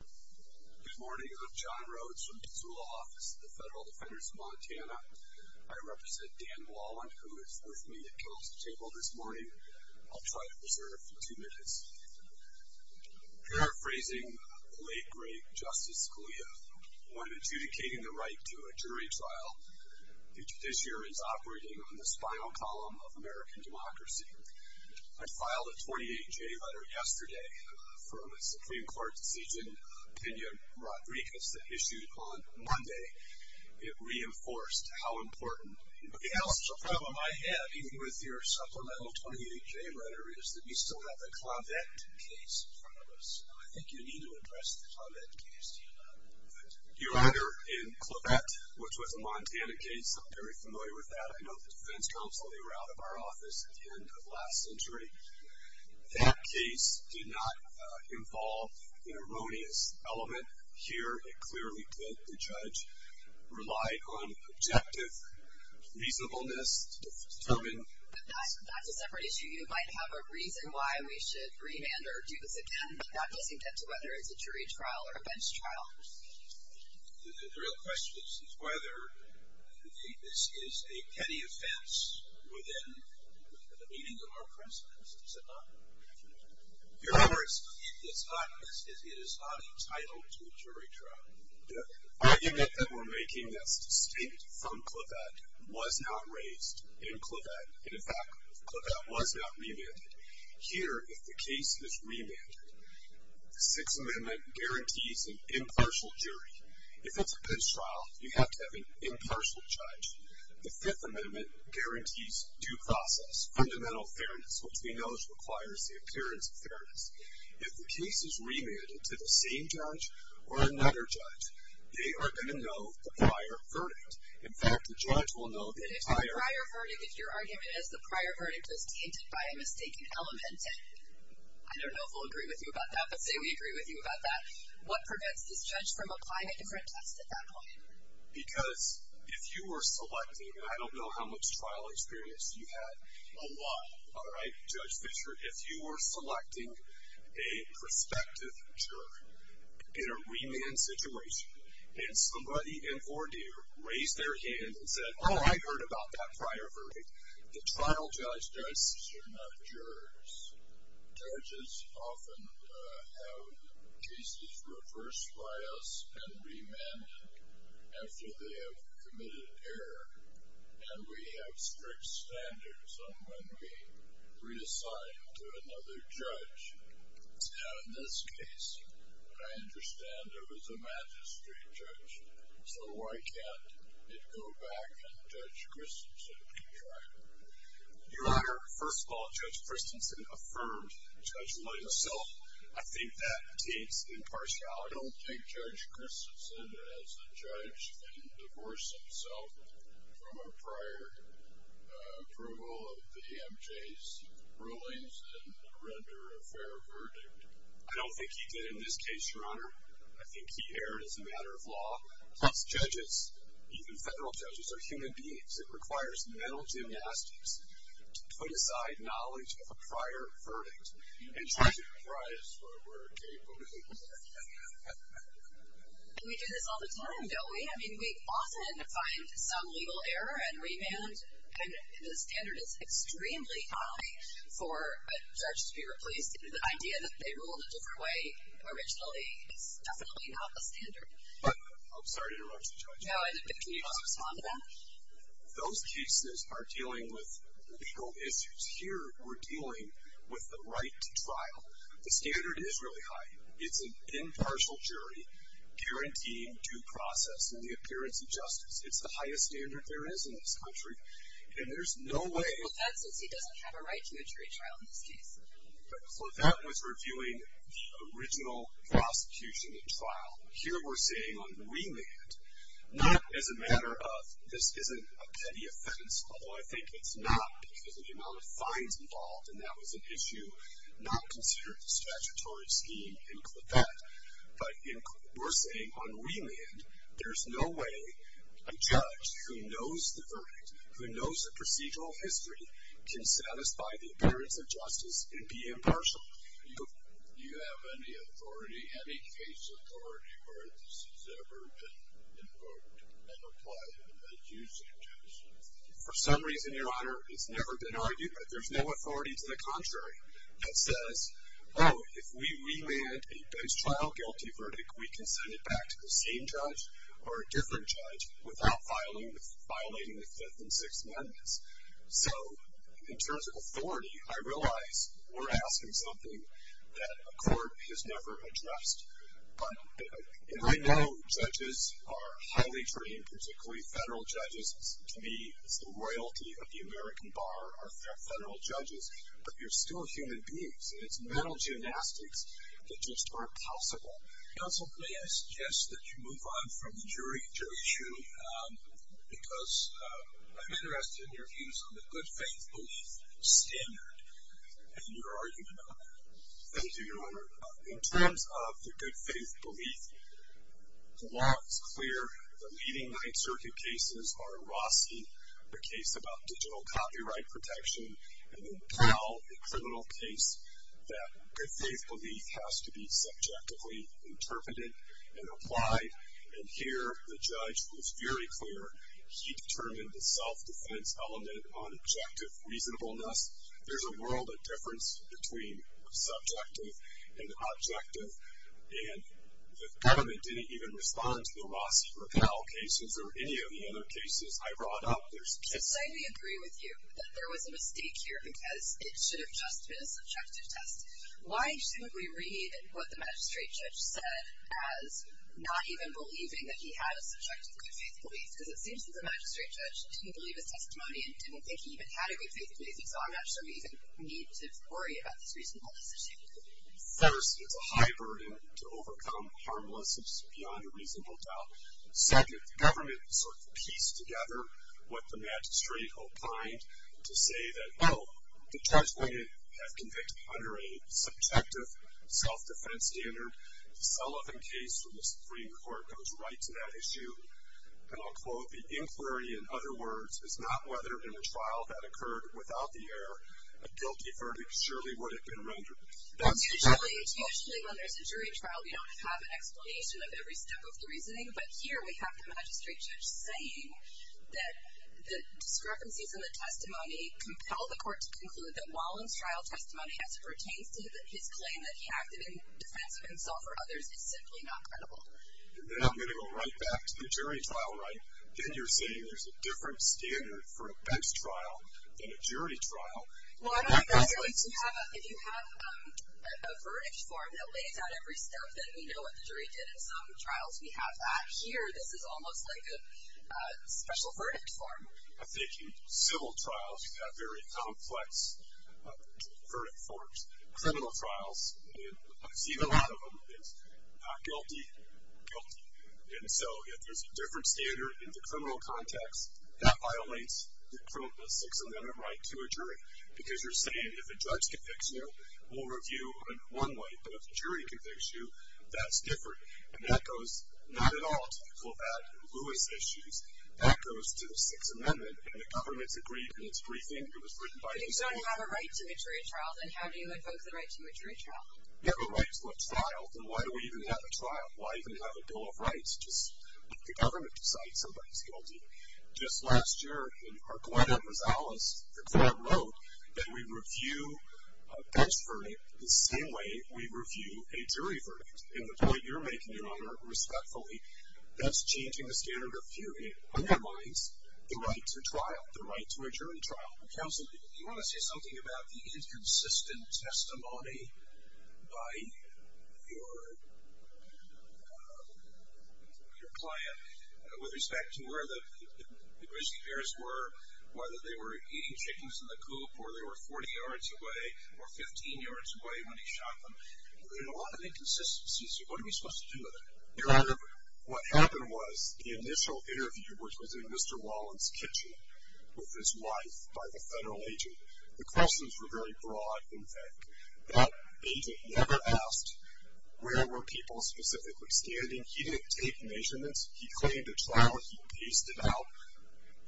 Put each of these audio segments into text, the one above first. Good morning, I'm John Rhodes from the Zula Office of the Federal Defenders of Montana. I represent Dan Wallen, who is with me at council table this morning. I'll try to preserve two minutes. Paraphrasing the late, great Justice Scalia, when adjudicating the right to a jury trial, the judiciary is operating on the spinal column of American democracy. I filed a 28-J letter yesterday from a Supreme Court decision, opinion, Rodriguez, that issued on Monday. It reinforced how important the council problem I have, even with your supplemental 28-J letter, is that we still have the Clavette case in front of us. I think you need to address the Clavette case, do you not? You honor in Clavette, which was a Montana case, I'm very familiar with that. I know the defense counsel, they were out of our office at the end of last century. That case did not involve an erroneous element here. It clearly did. The judge relied on objective reasonableness to determine. But that's a separate issue. You might have a reason why we should remand or do this again, but that doesn't get to whether it's a jury trial or a bench trial. The real question is whether this is a petty offense within the meaning of our precedence. Is it not? Your Honor, it is not entitled to a jury trial. The argument that we're making that's distinct from Clavette was not raised in Clavette. In fact, Clavette was not remanded. Here, if the case is remanded, the Sixth Amendment guarantees an impartial jury. If it's a bench trial, you have to have an impartial judge. The Fifth Amendment guarantees due process, fundamental fairness, which we know requires the appearance of fairness. If the case is remanded to the same judge or another judge, they are going to know the prior verdict. In fact, the judge will know the entire verdict. If your argument is the prior verdict is tainted by a mistaken element, I don't know if we'll agree with you about that, but say we agree with you about that, what prevents this judge from applying a different test at that point? Because if you were selecting, and I don't know how much trial experience you had, a lot, all right, Judge Fischer, if you were selecting a prospective juror in a remand situation and somebody in four-D raised their hand and said, oh, I heard about that prior verdict, the trial judge judges are not jurors. Judges often have cases reversed by us and remanded after they have committed error, and we have strict standards on when we reassign to another judge. Now, in this case, I understand there was a magistrate judge, so why can't it go back and Judge Christensen can try? Your Honor, first of all, Judge Christensen affirmed Judge Leitzel. I think that deems impartial. I don't think Judge Christensen as a judge can divorce himself from a prior approval of the EMJ's rulings and render a fair verdict. I don't think he did in this case, Your Honor. I think he erred as a matter of law. Because judges, even federal judges, are human beings. It requires mental gymnastics to put aside knowledge of a prior verdict and try to comprise what we're capable of. We do this all the time, don't we? I mean, we often find some legal error and remand, and the standard is extremely high for a judge to be replaced. The idea that they ruled a different way originally is definitely not the standard. I'm sorry to interrupt you, Judge. Can you respond to that? Those cases are dealing with legal issues. Here we're dealing with the right to trial. The standard is really high. It's an impartial jury guaranteeing due process and the appearance of justice. It's the highest standard there is in this country, and there's no way. Well, that's since he doesn't have a right to a jury trial in this case. Well, that was reviewing the original prosecution and trial. Here we're seeing on remand, not as a matter of this isn't a petty offense, although I think it's not because of the amount of fines involved, and that was an issue not considered in the statutory scheme in Clifton. But we're saying on remand, there's no way a judge who knows the verdict, who knows the procedural history, can satisfy the appearance of justice and be impartial. Do you have any authority, any case authority, where this has ever been invoked and applied in a judicial case? For some reason, Your Honor, it's never been argued, but there's no authority to the contrary that says, oh, if we remand a trial-guilty verdict, we can send it back to the same judge or a different judge without violating the Fifth and Sixth Amendments. So in terms of authority, I realize we're asking something that a court has never addressed. And I know judges are highly trained, particularly federal judges. To me, it's the royalty of the American bar are federal judges, but they're still human beings, and it's mental gymnastics that just aren't possible. Counsel, may I suggest that you move on from the jury issue because I'm interested in your views on the good-faith belief standard and your argument on that? Thank you, Your Honor. In terms of the good-faith belief, the law is clear. The leading Ninth Circuit cases are Rossi, the case about digital copyright protection, and then Powell, a criminal case, that good-faith belief has to be subjectively interpreted and applied. And here the judge was very clear. He determined the self-defense element on objective reasonableness. There's a world of difference between subjective and objective, and the government didn't even respond to the Rossi or Powell cases or any of the other cases I brought up. Should I agree with you that there was a mistake here because it should have just been a subjective test? Why should we read what the magistrate judge said as not even believing that he had a subjective good-faith belief? Because it seems that the magistrate judge didn't believe his testimony and didn't think he even had a good-faith belief, and so I'm not sure we even need to worry about this reasonableness issue. First, it's a high burden to overcome harmlessness beyond a reasonable doubt. Second, the government sort of pieced together what the magistrate opined to say that, oh, the judge may have convicted me under a subjective self-defense standard. The Sullivan case from the Supreme Court goes right to that issue. And I'll quote, The inquiry, in other words, is not whether, in a trial that occurred without the error, a guilty verdict surely would have been rendered. Usually, when there's a jury trial, we don't have an explanation of every step of the reasoning, but here we have the magistrate judge saying that the discrepancies in the testimony compel the court to conclude that Wallen's trial testimony as it pertains to his claim that he acted in defense of himself or others is simply not credible. Then I'm going to go right back to the jury trial, right? Then you're saying there's a different standard for a bench trial than a jury trial? Well, I don't think that's true. If you have a verdict form that lays out every step, then we know what the jury did in some trials. We have that here. This is almost like a special verdict form. I think in civil trials, you have very complex verdict forms. Criminal trials, I've seen a lot of them, it's not guilty, guilty. And so if there's a different standard in the criminal context, that violates the Sixth Amendment right to a jury because you're saying if a judge convicts you, we'll review in one way, but if a jury convicts you, that's different. And that goes not at all to the Colpatt and Lewis issues. That goes to the Sixth Amendment, and the government's agreed, and it's briefing, it was written by the government. But if you don't have a right to a jury trial, then how do you invoke the right to a jury trial? You have a right to a trial, then why do we even have a trial? Why even have a bill of rights? Just let the government decide somebody's guilty. Just last year, when Glenda Rosales, the club, wrote that we review a bench verdict the same way we review a jury verdict. And the point you're making, Your Honor, respectfully, that's changing the standard of theory. It undermines the right to trial, the right to a jury trial. Counsel, do you want to say something about the inconsistent testimony by your client with respect to where the grizzly bears were, whether they were eating chickens in the coop, or they were 40 yards away, or 15 yards away when he shot them? There were a lot of inconsistencies. What are we supposed to do with it? Your Honor, what happened was the initial interview, which was in Mr. Wallen's kitchen with his wife by the federal agent, the questions were very broad, in fact. That agent never asked where were people specifically standing. He didn't take measurements. He claimed a trial. He paced it out.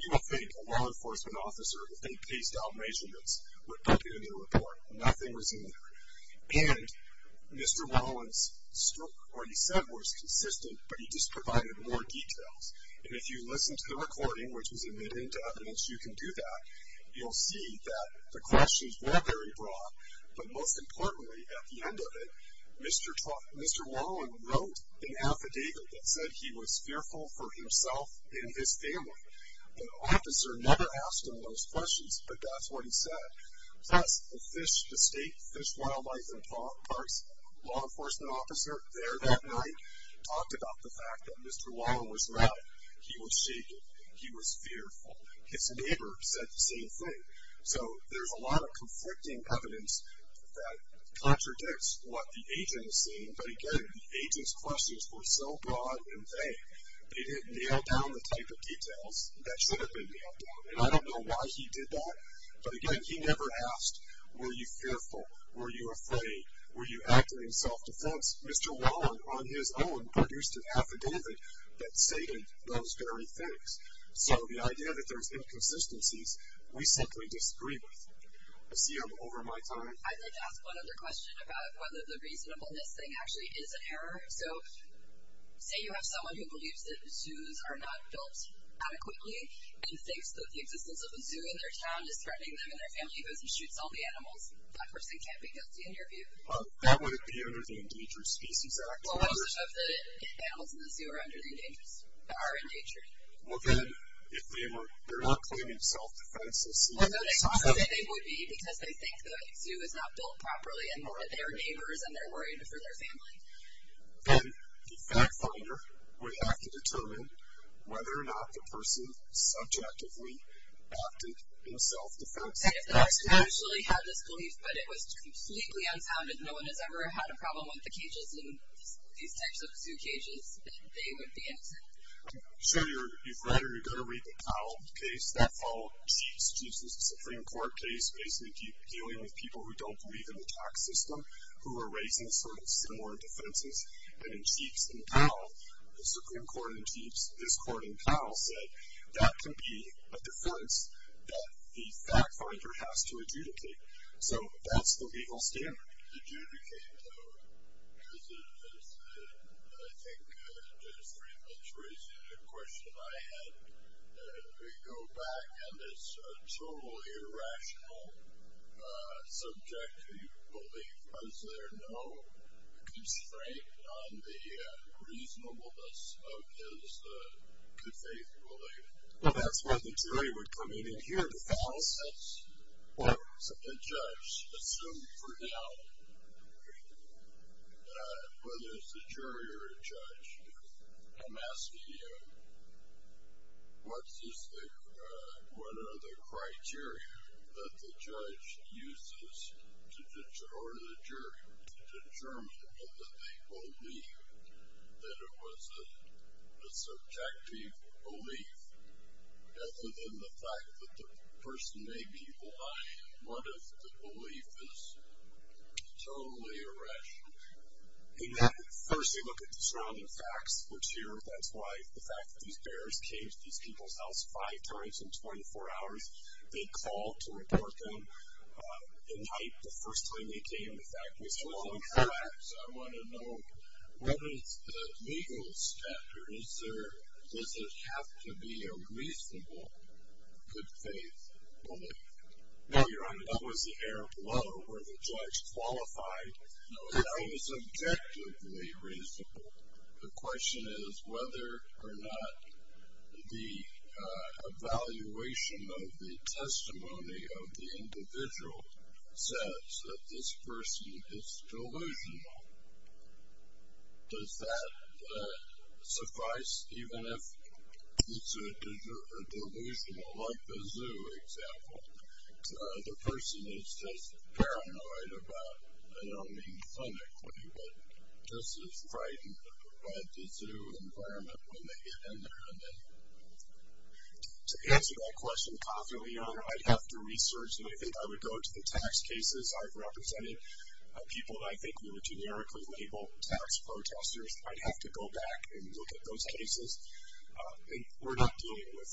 You would think a law enforcement officer, if they paced out measurements, would put it in their report. Nothing was in there. And Mr. Wallen's stroke, what he said, was consistent, but he just provided more details. And if you listen to the recording, which was admitted into evidence, you can do that. You'll see that the questions were very broad, but most importantly at the end of it, Mr. Wallen wrote an affidavit that said he was fearful for himself and his family. The officer never asked him those questions, but that's what he said. Plus, the state Fish, Wildlife, and Parks law enforcement officer there that night talked about the fact that Mr. Wallen was right. He was shaking. He was fearful. His neighbor said the same thing. So there's a lot of conflicting evidence that contradicts what the agent is saying, but, again, the agent's questions were so broad and vague, they didn't nail down the type of details that should have been nailed down. And I don't know why he did that, but, again, he never asked were you fearful, were you afraid, were you acting in self-defense. Mr. Wallen, on his own, produced an affidavit that stated those very things. So the idea that there's inconsistencies, we simply disagree with. I see I'm over my time. I'd like to ask one other question about whether the reasonableness thing actually is an error. So say you have someone who believes that zoos are not built adequately and thinks that the existence of a zoo in their town is threatening them and their family because it shoots all the animals. That person can't be guilty in your view. That wouldn't be under the Endangered Species Act, would it? Well, most of the animals in the zoo are endangered. Well, then, if they're not claiming self-defense, let's see. Well, no, they would be because they think the zoo is not built properly and they're neighbors and they're worried for their family. Then the fact-finder would have to determine whether or not the person subjectively acted in self-defense. Say if the person actually had this belief but it was completely unsound and no one has ever had a problem with the cages in these types of zoo cages, then they would be innocent. So you've read or you've got to read the Powell case. That followed Cheaps, Cheaps' Supreme Court case, basically dealing with people who don't believe in the tax system, who were raising sort of similar defenses. And in Cheaps and Powell, the Supreme Court in Cheaps, this court in Powell, said that can be a defense that the fact-finder has to adjudicate. So that's the legal standard. Adjudicate, though, because it is, I think, just briefly tracing the question I had. If we go back on this totally irrational subject, was there no constraint on the reasonableness of his good-faith belief? Well, that's where the jury would come in and hear the facts. That's what the judge assumed for now, whether it's a jury or a judge. I'm asking you, what are the criteria that the judge uses or the jury to determine whether they believe that it was a subjective belief, other than the fact that the person may be lying? What if the belief is totally irrational? First, they look at the surrounding facts, which here, that's why the fact that these bears came to these people's house five times in 24 hours, they called to report them. At night, the first thing they came to the fact was the surrounding facts. I want to know, what is the legal standard? Does it have to be a reasonable good-faith belief? No, Your Honor, that was the air below where the judge qualified that it was objectively reasonable. The question is whether or not the evaluation of the testimony of the individual says that this person is delusional. Does that suffice, even if it's a delusional, like the zoo example? The person is just paranoid about, I don't mean clinically, but just as frightened by the zoo environment when they get in there. To answer that question properly, Your Honor, I'd have to research, and I think I would go to the tax cases. I've represented people that I think were generically labeled tax protesters. I'd have to go back and look at those cases. I think we're not dealing with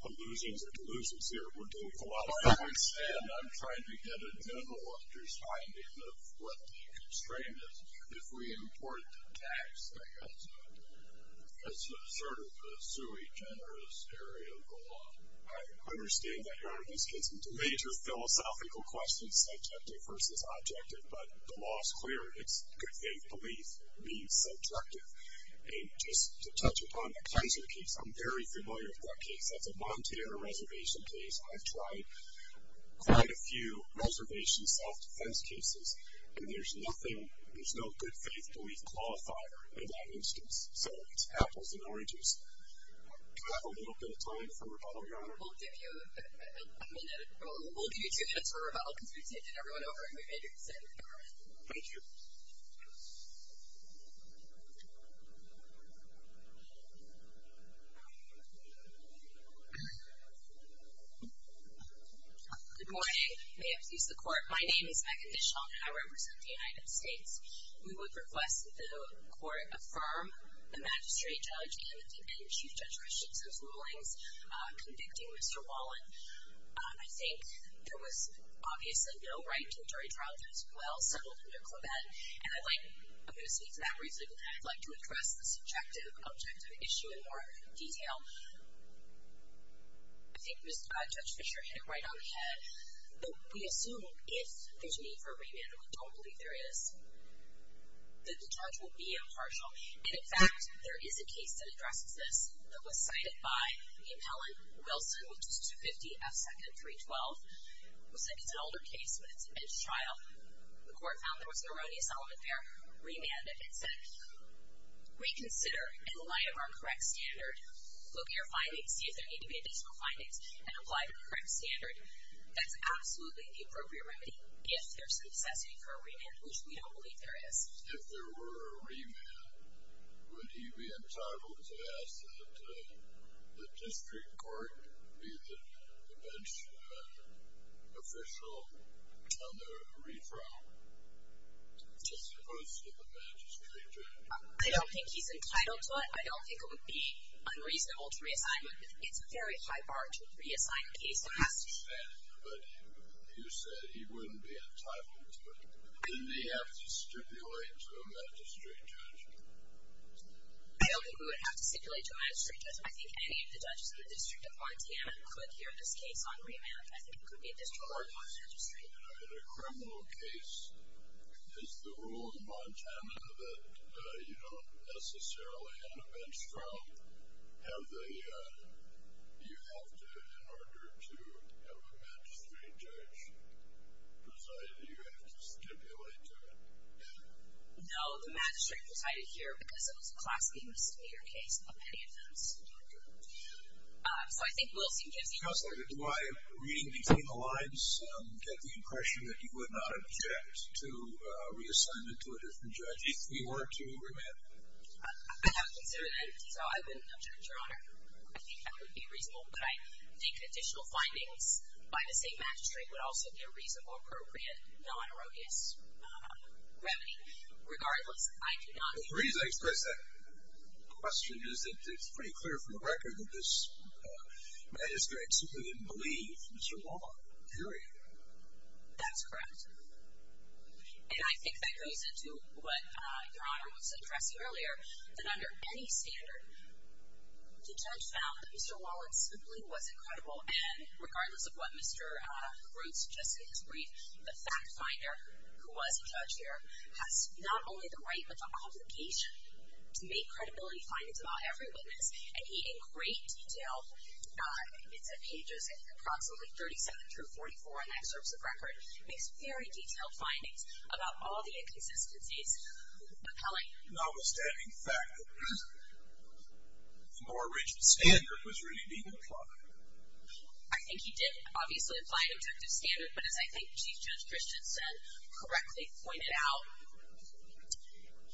illusions or delusions here. We're dealing with a lot of facts, and I'm trying to get a general understanding of what the constraint is if we import tax as sort of a sui generis area of the law. I understand that, Your Honor, this gets into major philosophical questions, subjective versus objective, but the law is clear. It's good-faith belief being subjective. And just to touch upon the Kaiser case, I'm very familiar with that case. That's a Montero Reservation case. I've tried quite a few reservation self-defense cases, and there's no good-faith belief qualifier in that instance. So it's apples and oranges. Do I have a little bit of time for rebuttal, Your Honor? We'll give you a minute. We'll give you two minutes for rebuttal because we've taken everyone over and we've made your decision. Thank you. Good morning. May it please the Court, my name is Megan Dishon, and I represent the United States. We would request that the Court affirm the magistrate, judge, and the chief judge restrictions of rulings convicting Mr. Wallen. I think there was obviously no right to a jury trial that was well settled under Clement, and I'd like to speak to that briefly, but I'd like to address the subjective objective issue in more detail. I think Judge Fischer hit it right on the head, but we assume if there's a need for a remand, and we don't believe there is, that the charge will be impartial. And, in fact, there is a case that addresses this that was cited by the appellant, Wilson, which is 250 F. Second 312, who said it's an older case, but it's a bench trial. The Court found there was an erroneous element there, remanded it, reconsider in light of our correct standard, look at your findings, see if there need to be additional findings, and apply the correct standard. That's absolutely the appropriate remedy if there's a necessity for a remand, which we don't believe there is. If there were a remand, would he be entitled to ask that the district court be the bench official on the re-trial, as opposed to the magistrate judge? I don't think he's entitled to it. I don't think it would be unreasonable to reassign him. It's a very high bar to reassign a case like that. I understand, but you said he wouldn't be entitled to it. Wouldn't he have to stipulate to a magistrate judge? I don't think he would have to stipulate to a magistrate judge. I think any of the judges in the District of Montana could hear this case on remand. I think it could be a district court magistrate. In a criminal case, is the rule in Montana that you don't necessarily have a bench trial? You have to, in order to have a magistrate judge preside, you have to stipulate to it. No, the magistrate presided here because it was a class B misdemeanor case of any offense. So I think Wilson gives the answer. Counsel, do I, reading between the lines, get the impression that you would not object to reassignment to a different judge if he were to remand? I haven't considered that, so I wouldn't object, Your Honor. I think that would be reasonable, but I think additional findings by the same magistrate would also be a reasonable, appropriate, non-erogous remedy. Regardless, I do not... The reason I expressed that question is that it's pretty clear from the record that this magistrate simply didn't believe Mr. Wallen, period. That's correct. And I think that goes into what Your Honor was addressing earlier, that under any standard, the judge found that Mr. Wallen simply was incredible, and regardless of what Mr. Groot suggested in his brief, the fact-finder who was a judge here has not only the right but the obligation to make credibility findings about every witness, and he in great detail, it's in pages approximately 37 through 44 in excerpts of record, makes very detailed findings about all the inconsistencies. But, Kelly... Notwithstanding the fact that a more rigid standard was really being implied. I think he did, obviously, imply an objective standard, but as I think Chief Judge Christensen correctly pointed out,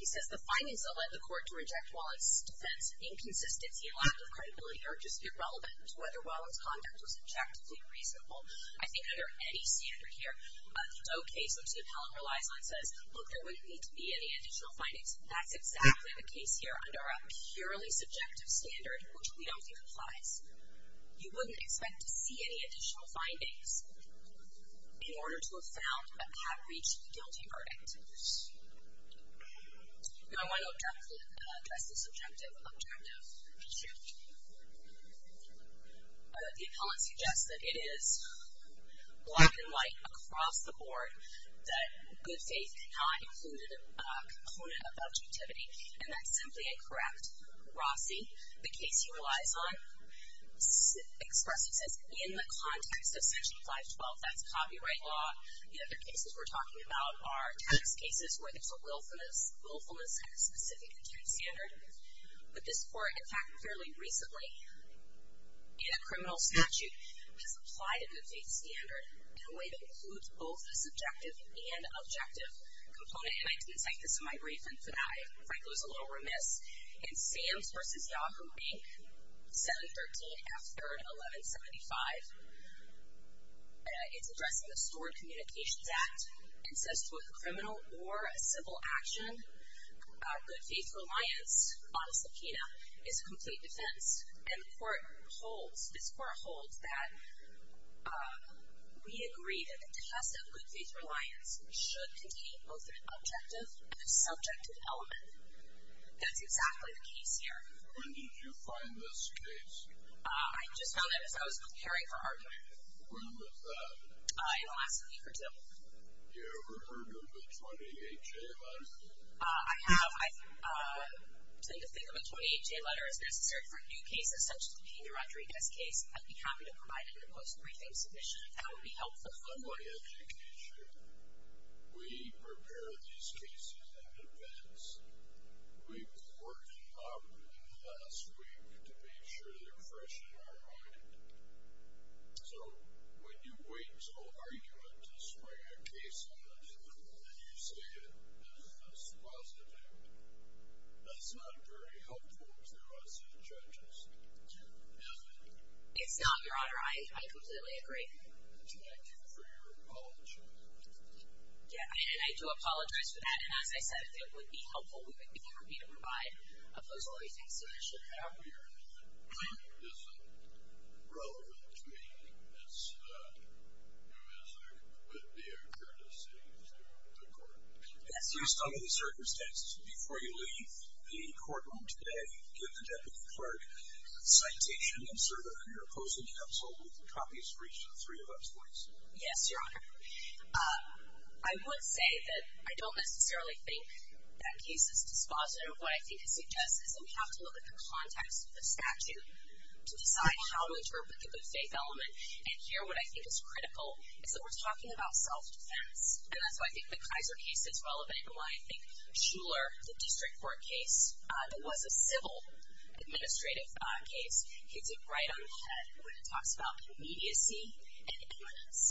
he says the findings that led the court to reject Mr. Wallen's defense of inconsistency and lack of credibility are just irrelevant to whether Wallen's conduct was objectively reasonable. I think under any standard here, the Doe case, which the appellant relies on, says, look, there wouldn't need to be any additional findings. That's exactly the case here, under a purely subjective standard, which we don't think applies. You wouldn't expect to see any additional findings in order to have found or have reached a guilty verdict. No, I want to address the subjective objective. The appellant suggests that it is black and white across the board, that good faith cannot include a component of objectivity, and that's simply incorrect. Rossi, the case he relies on, expresses this in the context of Section 512. That's copyright law. The other cases we're talking about are tax cases where there's a willfulness and a specific attuned standard. But this court, in fact, fairly recently, in a criminal statute, has applied a good faith standard in a way that includes both a subjective and objective component. And I didn't cite this in my brief, and frankly, I was a little remiss. In Sam's v. Yahoo, Inc., 713 after 1175, it's addressing the Stored Communications Act and says to a criminal or a civil action, good faith reliance on a subpoena is a complete defense. And the court holds, this court holds, that we agree that the test of good faith reliance should contain both an objective and a subjective element. That's exactly the case here. When did you find this case? I just found it as I was preparing for argument. When was that? In the last week or two. You ever heard of a 28-J letter? I have. I tend to think of a 28-J letter as necessary for new cases such as the Peter Rodriguez case. I'd be happy to provide a proposed briefing submission if that would be helpful. In my education, we prepare these cases in advance. We've worked hard in the last week to make sure they're fresh in our mind. So when you wait until argument to spray a case on the table and you say that this is positive, that's not very helpful to us as judges, is it? It's not, Your Honor. I completely agree. Thank you for your apology. Yeah, and I do apologize for that. And as I said, if it would be helpful, we would be happy to provide a proposal briefing submission. How clear is it relevant to anything that's new, as there could be a courtesy to the court? Yes, Your Honor. Under the circumstances, before you leave the courtroom today, give the deputy clerk a citation and serve it on your opposing counsel with the copies reached to the three of us, please. Yes, Your Honor. I would say that I don't necessarily think that case is dispositive. What I think it suggests is that we have to look at the context of the statute to decide how we interpret the good faith element. And here, what I think is critical is that we're talking about self-defense. And that's why I think the Kaiser case is relevant and why I think Shuler, the district court case, that was a civil administrative case, hits it right on the head when it talks about immediacy and imminence.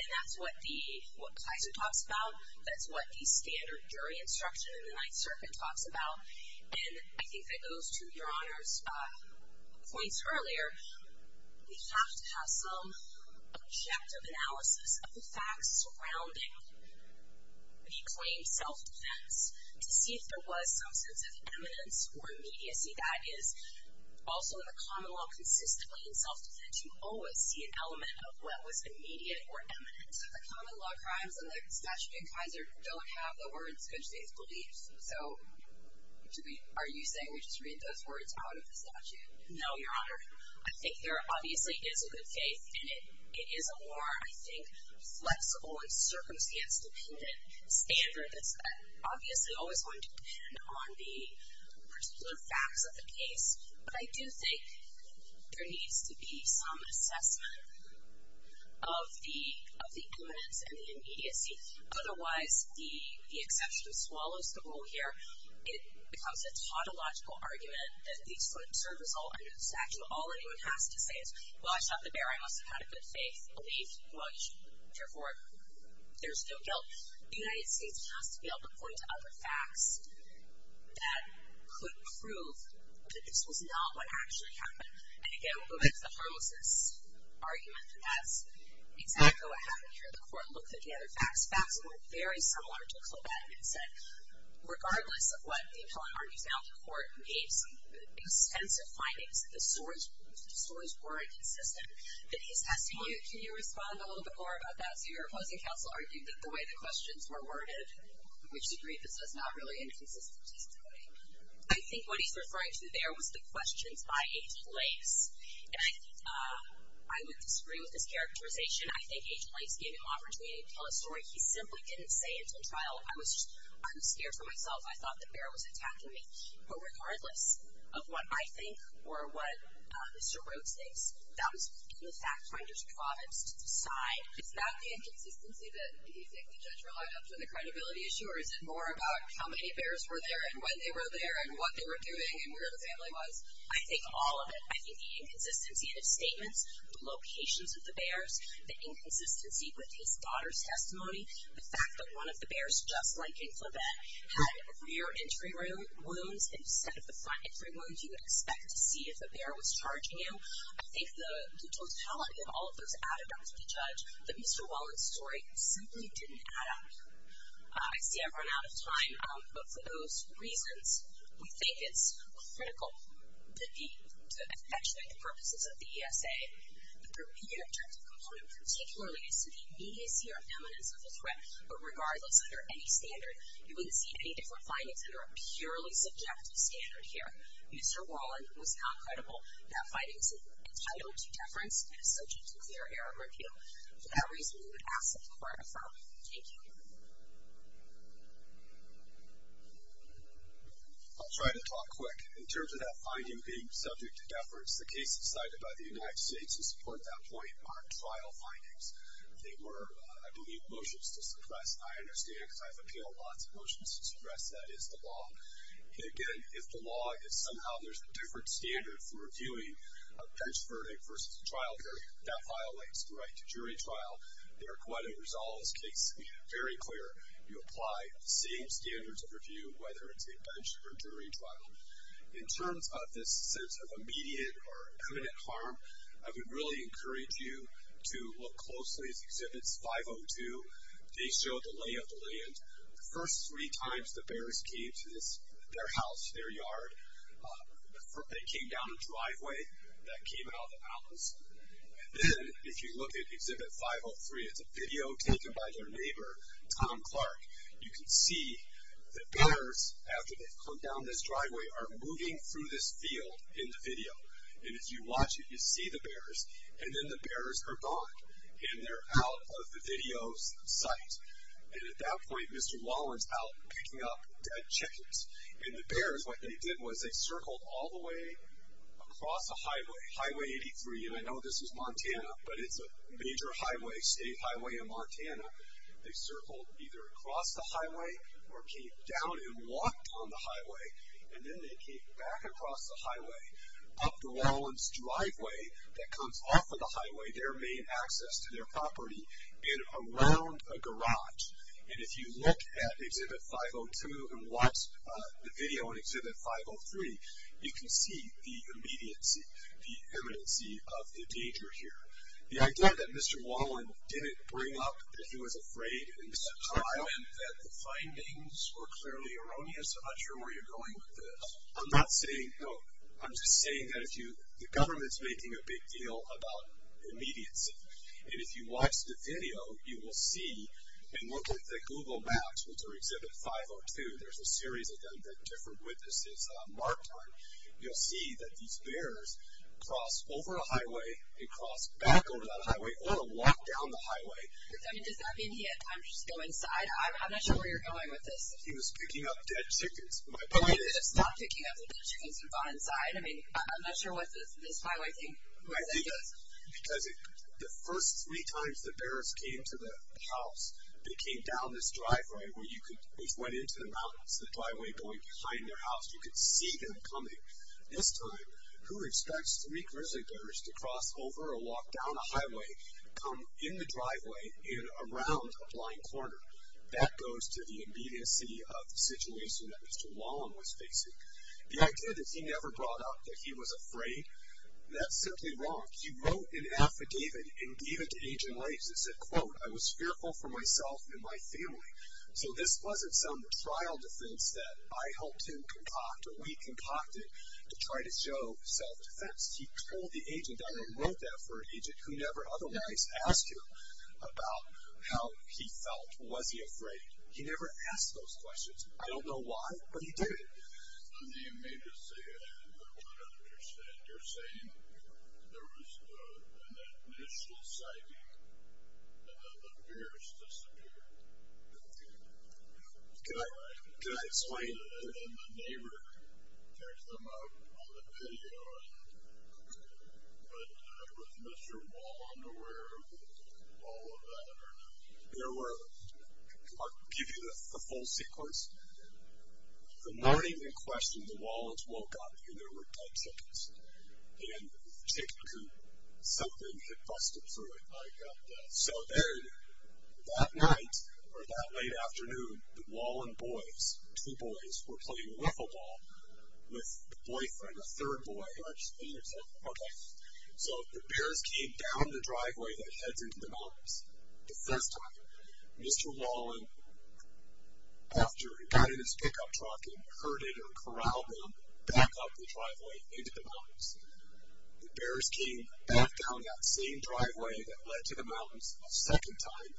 And that's what Kaiser talks about. That's what the standard jury instruction in the Ninth Circuit talks about. And I think that goes to Your Honor's points earlier. We have to have some objective analysis of the facts surrounding the claim self-defense to see if there was some sense of imminence or immediacy. That is, also in the common law, consistently in self-defense, you always see an element of what was immediate or imminent. The common law crimes in the statute in Kaiser don't have the words good faith beliefs. So are you saying we just read those words out of the statute? No, Your Honor. I think there obviously is a good faith in it. It is a more, I think, flexible and circumstance-dependent standard that's obviously always going to depend on the particular facts of the case. But I do think there needs to be some assessment of the imminence and the immediacy. Otherwise, the exception swallows the whole here. It becomes a tautological argument that these would serve as all under the statute. All anyone has to say is, well, I shot the bear. I must have had a good faith belief. Well, you should care for it. There's no guilt. The United States has to be able to point to other facts that could prove that this was not what actually happened. And again, we'll go back to the harmlessness argument. That's exactly what happened here. The court looked at the other facts. Facts that were very similar to Colbeck and said, regardless of what the appellant argues now, the court made some extensive findings that the stories were inconsistent. Can you respond a little bit more about that? So your opposing counsel argued that the way the questions were worded, which agreed that this was not really an inconsistent testimony. I think what he's referring to there was the questions by Agent Lakes. And I think I would disagree with this characterization. I think Agent Lakes gave him opportunity to tell a story. He simply didn't say until trial, I was scared for myself. I thought the bear was attacking me. But regardless of what I think or what Mr. Rhodes thinks, that was the fact finder's province to decide. Is that the inconsistency that you think the judge relied on for the credibility issue? Or is it more about how many bears were there and when they were there and what they were doing and where the family was? I think all of it. I think the inconsistency in his statements, the locations of the bears, the inconsistency with his daughter's testimony, the fact that one of the bears, just like in Colbeck, had rear entry wounds instead of the front entry wounds you would expect to see if a bear was charging you. I think the totality of all of those added up to the judge that Mr. Wallen's story simply didn't add up. I see I've run out of time. But for those reasons, we think it's critical to accentuate the purposes of the ESA. The repeated objective component particularly is to the immediacy or eminence of the threat. But regardless, under any standard, you wouldn't see any different findings under a purely subjective standard here. Mr. Wallen was not credible. That finding is entitled to deference and is subject to clear error or repeal. For that reason, we would ask that the court affirm. Thank you. I'll try to talk quick. In terms of that finding being subject to deference, the cases cited by the United States to support that point are trial findings. They were, I believe, motions to suppress. I understand it because I've appealed lots of motions to suppress. That is the law. And again, if the law is somehow there's a different standard for reviewing a pench verdict versus a trial hearing, that violates the right to jury trial. They're quite a resolvist case. Very clear. You apply the same standards of review, whether it's a bench or jury trial. In terms of this sense of immediate or imminent harm, I would really encourage you to look closely at Exhibits 502. They show the lay of the land. The first three times the bearers came to their house, their yard, they came down a driveway that came out of the palace. And then, if you look at Exhibit 503, it's a video taken by their neighbor, Tom Clark. You can see the bearers, after they've come down this driveway, are moving through this field in the video. And if you watch it, you see the bearers. And then the bearers are gone. And they're out of the video's sight. And at that point, Mr. Wallin's out picking up dead chickens. And the bearers, what they did was they circled all the way across the highway, Highway 83. And I know this is Montana, but it's a major highway, state highway in Montana. They circled either across the highway or came down and walked on the highway. And then they came back across the highway, up the Wallin's driveway that comes off of the highway, their main access to their property, and around a garage. And if you look at Exhibit 502 and watch the video in Exhibit 503, you can see the immediacy, the eminency of the danger here. The idea that Mr. Wallin didn't bring up that he was afraid and that the findings were clearly erroneous, I'm not sure where you're going with this. I'm not saying, no, I'm just saying that if you, the government's making a big deal about immediacy. And if you watch the video, you will see and look at the Google Maps, which are Exhibit 502, there's a series of them that different witnesses marked on. You'll see that these bears cross over a highway and cross back over that highway or walk down the highway. I mean, does that mean he had time to just go inside? I'm not sure where you're going with this. He was picking up dead chickens, my point is. Okay, but it's not picking up the dead chickens and going inside. I mean, I'm not sure what this highway thing was, I guess. Because the first three times the bears came to the house, they came down this driveway where you could, they went into the mountains, the driveway going behind their house. You could see them coming. This time, who expects three grizzly bears to cross over or walk down a highway, come in the driveway, and around a blind corner? That goes to the immediacy of the situation that Mr. Wallen was facing. The idea that he never brought up that he was afraid, that's simply wrong. He wrote an affidavit and gave it to Agent Lathes and said, quote, I was fearful for myself and my family. So this wasn't some trial defense that I helped him concoct or we concocted to try to show self-defense. He told the agent, I wrote that for an agent who never otherwise asked him about how he felt, was he afraid. He never asked those questions. I don't know why, but he did. On the immediacy, I don't understand. You're saying there was an initial sighting and then the bears disappeared. Can I explain? And then the neighbor takes them out on the patio, but was Mr. Wallen aware of all of that or not? There were – I'll give you the full sequence. The morning in question, the Wallens woke up and there were dead chickens. And the chicken coop, something had busted through it. I got that. So then that night or that late afternoon, the Wallen boys, two boys, were playing wiffle ball with the boyfriend, a third boy. I just need to tell you. Okay. So the bears came down the driveway that heads into the mountains. The first time, Mr. Wallen, after he got in his pickup truck and herded or corralled them back up the driveway into the mountains, the bears came back down that same driveway that led to the mountains a second time.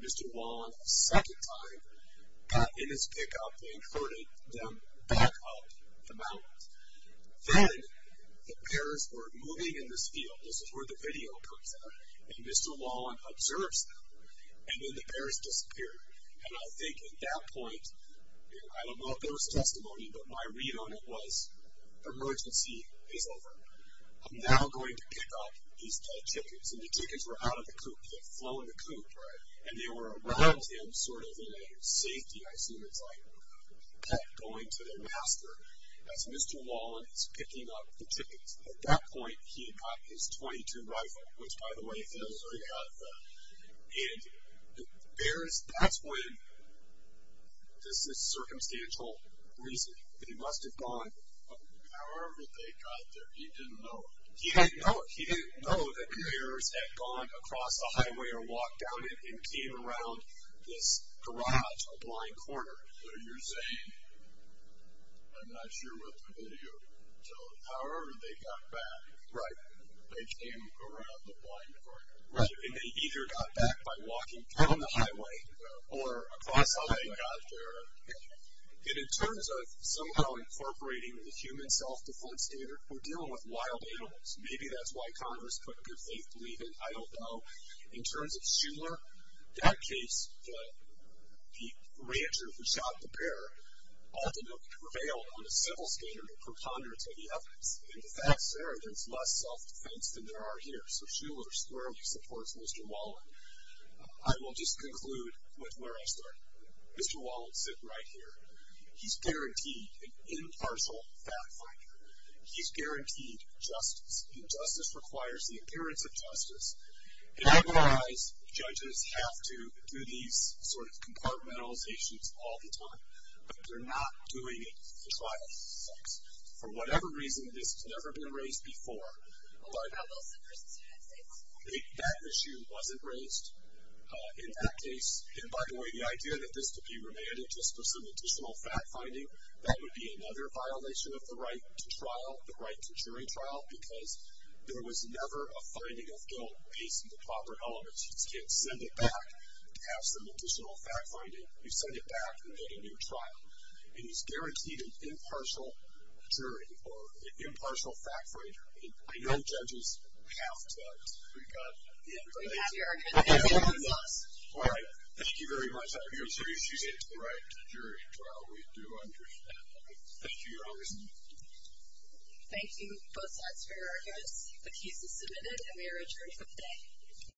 Mr. Wallen, a second time, got in his pickup and herded them back up the mountains. Then the bears were moving in this field. This is where the video comes in. And Mr. Wallen observes them. And then the bears disappeared. And I think at that point, I don't know if there was testimony, but my read on it was, emergency is over. I'm now going to pick up these dead chickens. And the chickens were out of the coop. They had flown the coop. Right. And they were around him sort of in a safety, I assume it's like a pet, going to their master as Mr. Wallen is picking up the chickens. At that point, he had got his .22 rifle, which, by the way, he had already got. And the bears, that's when, this is circumstantial reasoning. They must have gone. However they got there, he didn't know. He didn't know. He didn't know that the bears had gone across the highway or walked down and came around this garage, a blind corner. So you're saying, I'm not sure what the video told. However, they got back. Right. They came around the blind corner. Right. And they either got back by walking down the highway or across the highway. They got there. And in terms of somehow incorporating the human self-defense standard, we're dealing with wild animals. Maybe that's why Congress couldn't give faith to leave him. I don't know. In terms of Shuler, that case, the rancher who shot the bear ultimately prevailed on a simple standard of preponderance of the evidence. In fact, there is less self-defense than there are here. So Shuler squarely supports Mr. Wallen. I will just conclude with where I started. Mr. Wallen, sit right here. He's guaranteed an impartial fact finder. He's guaranteed justice, and justice requires the appearance of justice. And I realize judges have to do these sort of compartmentalizations all the time, but they're not doing it for trial. For whatever reason, this has never been raised before. But that issue wasn't raised in that case. And, by the way, the idea that this could be remanded just for some additional fact finding, that would be another violation of the right to trial, the right to jury trial, because there was never a finding of guilt based on the proper elements. You can't send it back to have some additional fact finding. You send it back and get a new trial. And he's guaranteed an impartial jury or an impartial fact finder. And I know judges have to. We've got the evidence. We have your argument. This one is us. All right. Thank you very much. I appreciate it. The right to jury trial, we do understand that. Thank you. Your honor. Thank you both sides for your arguments. The case is submitted, and we are adjourned for today.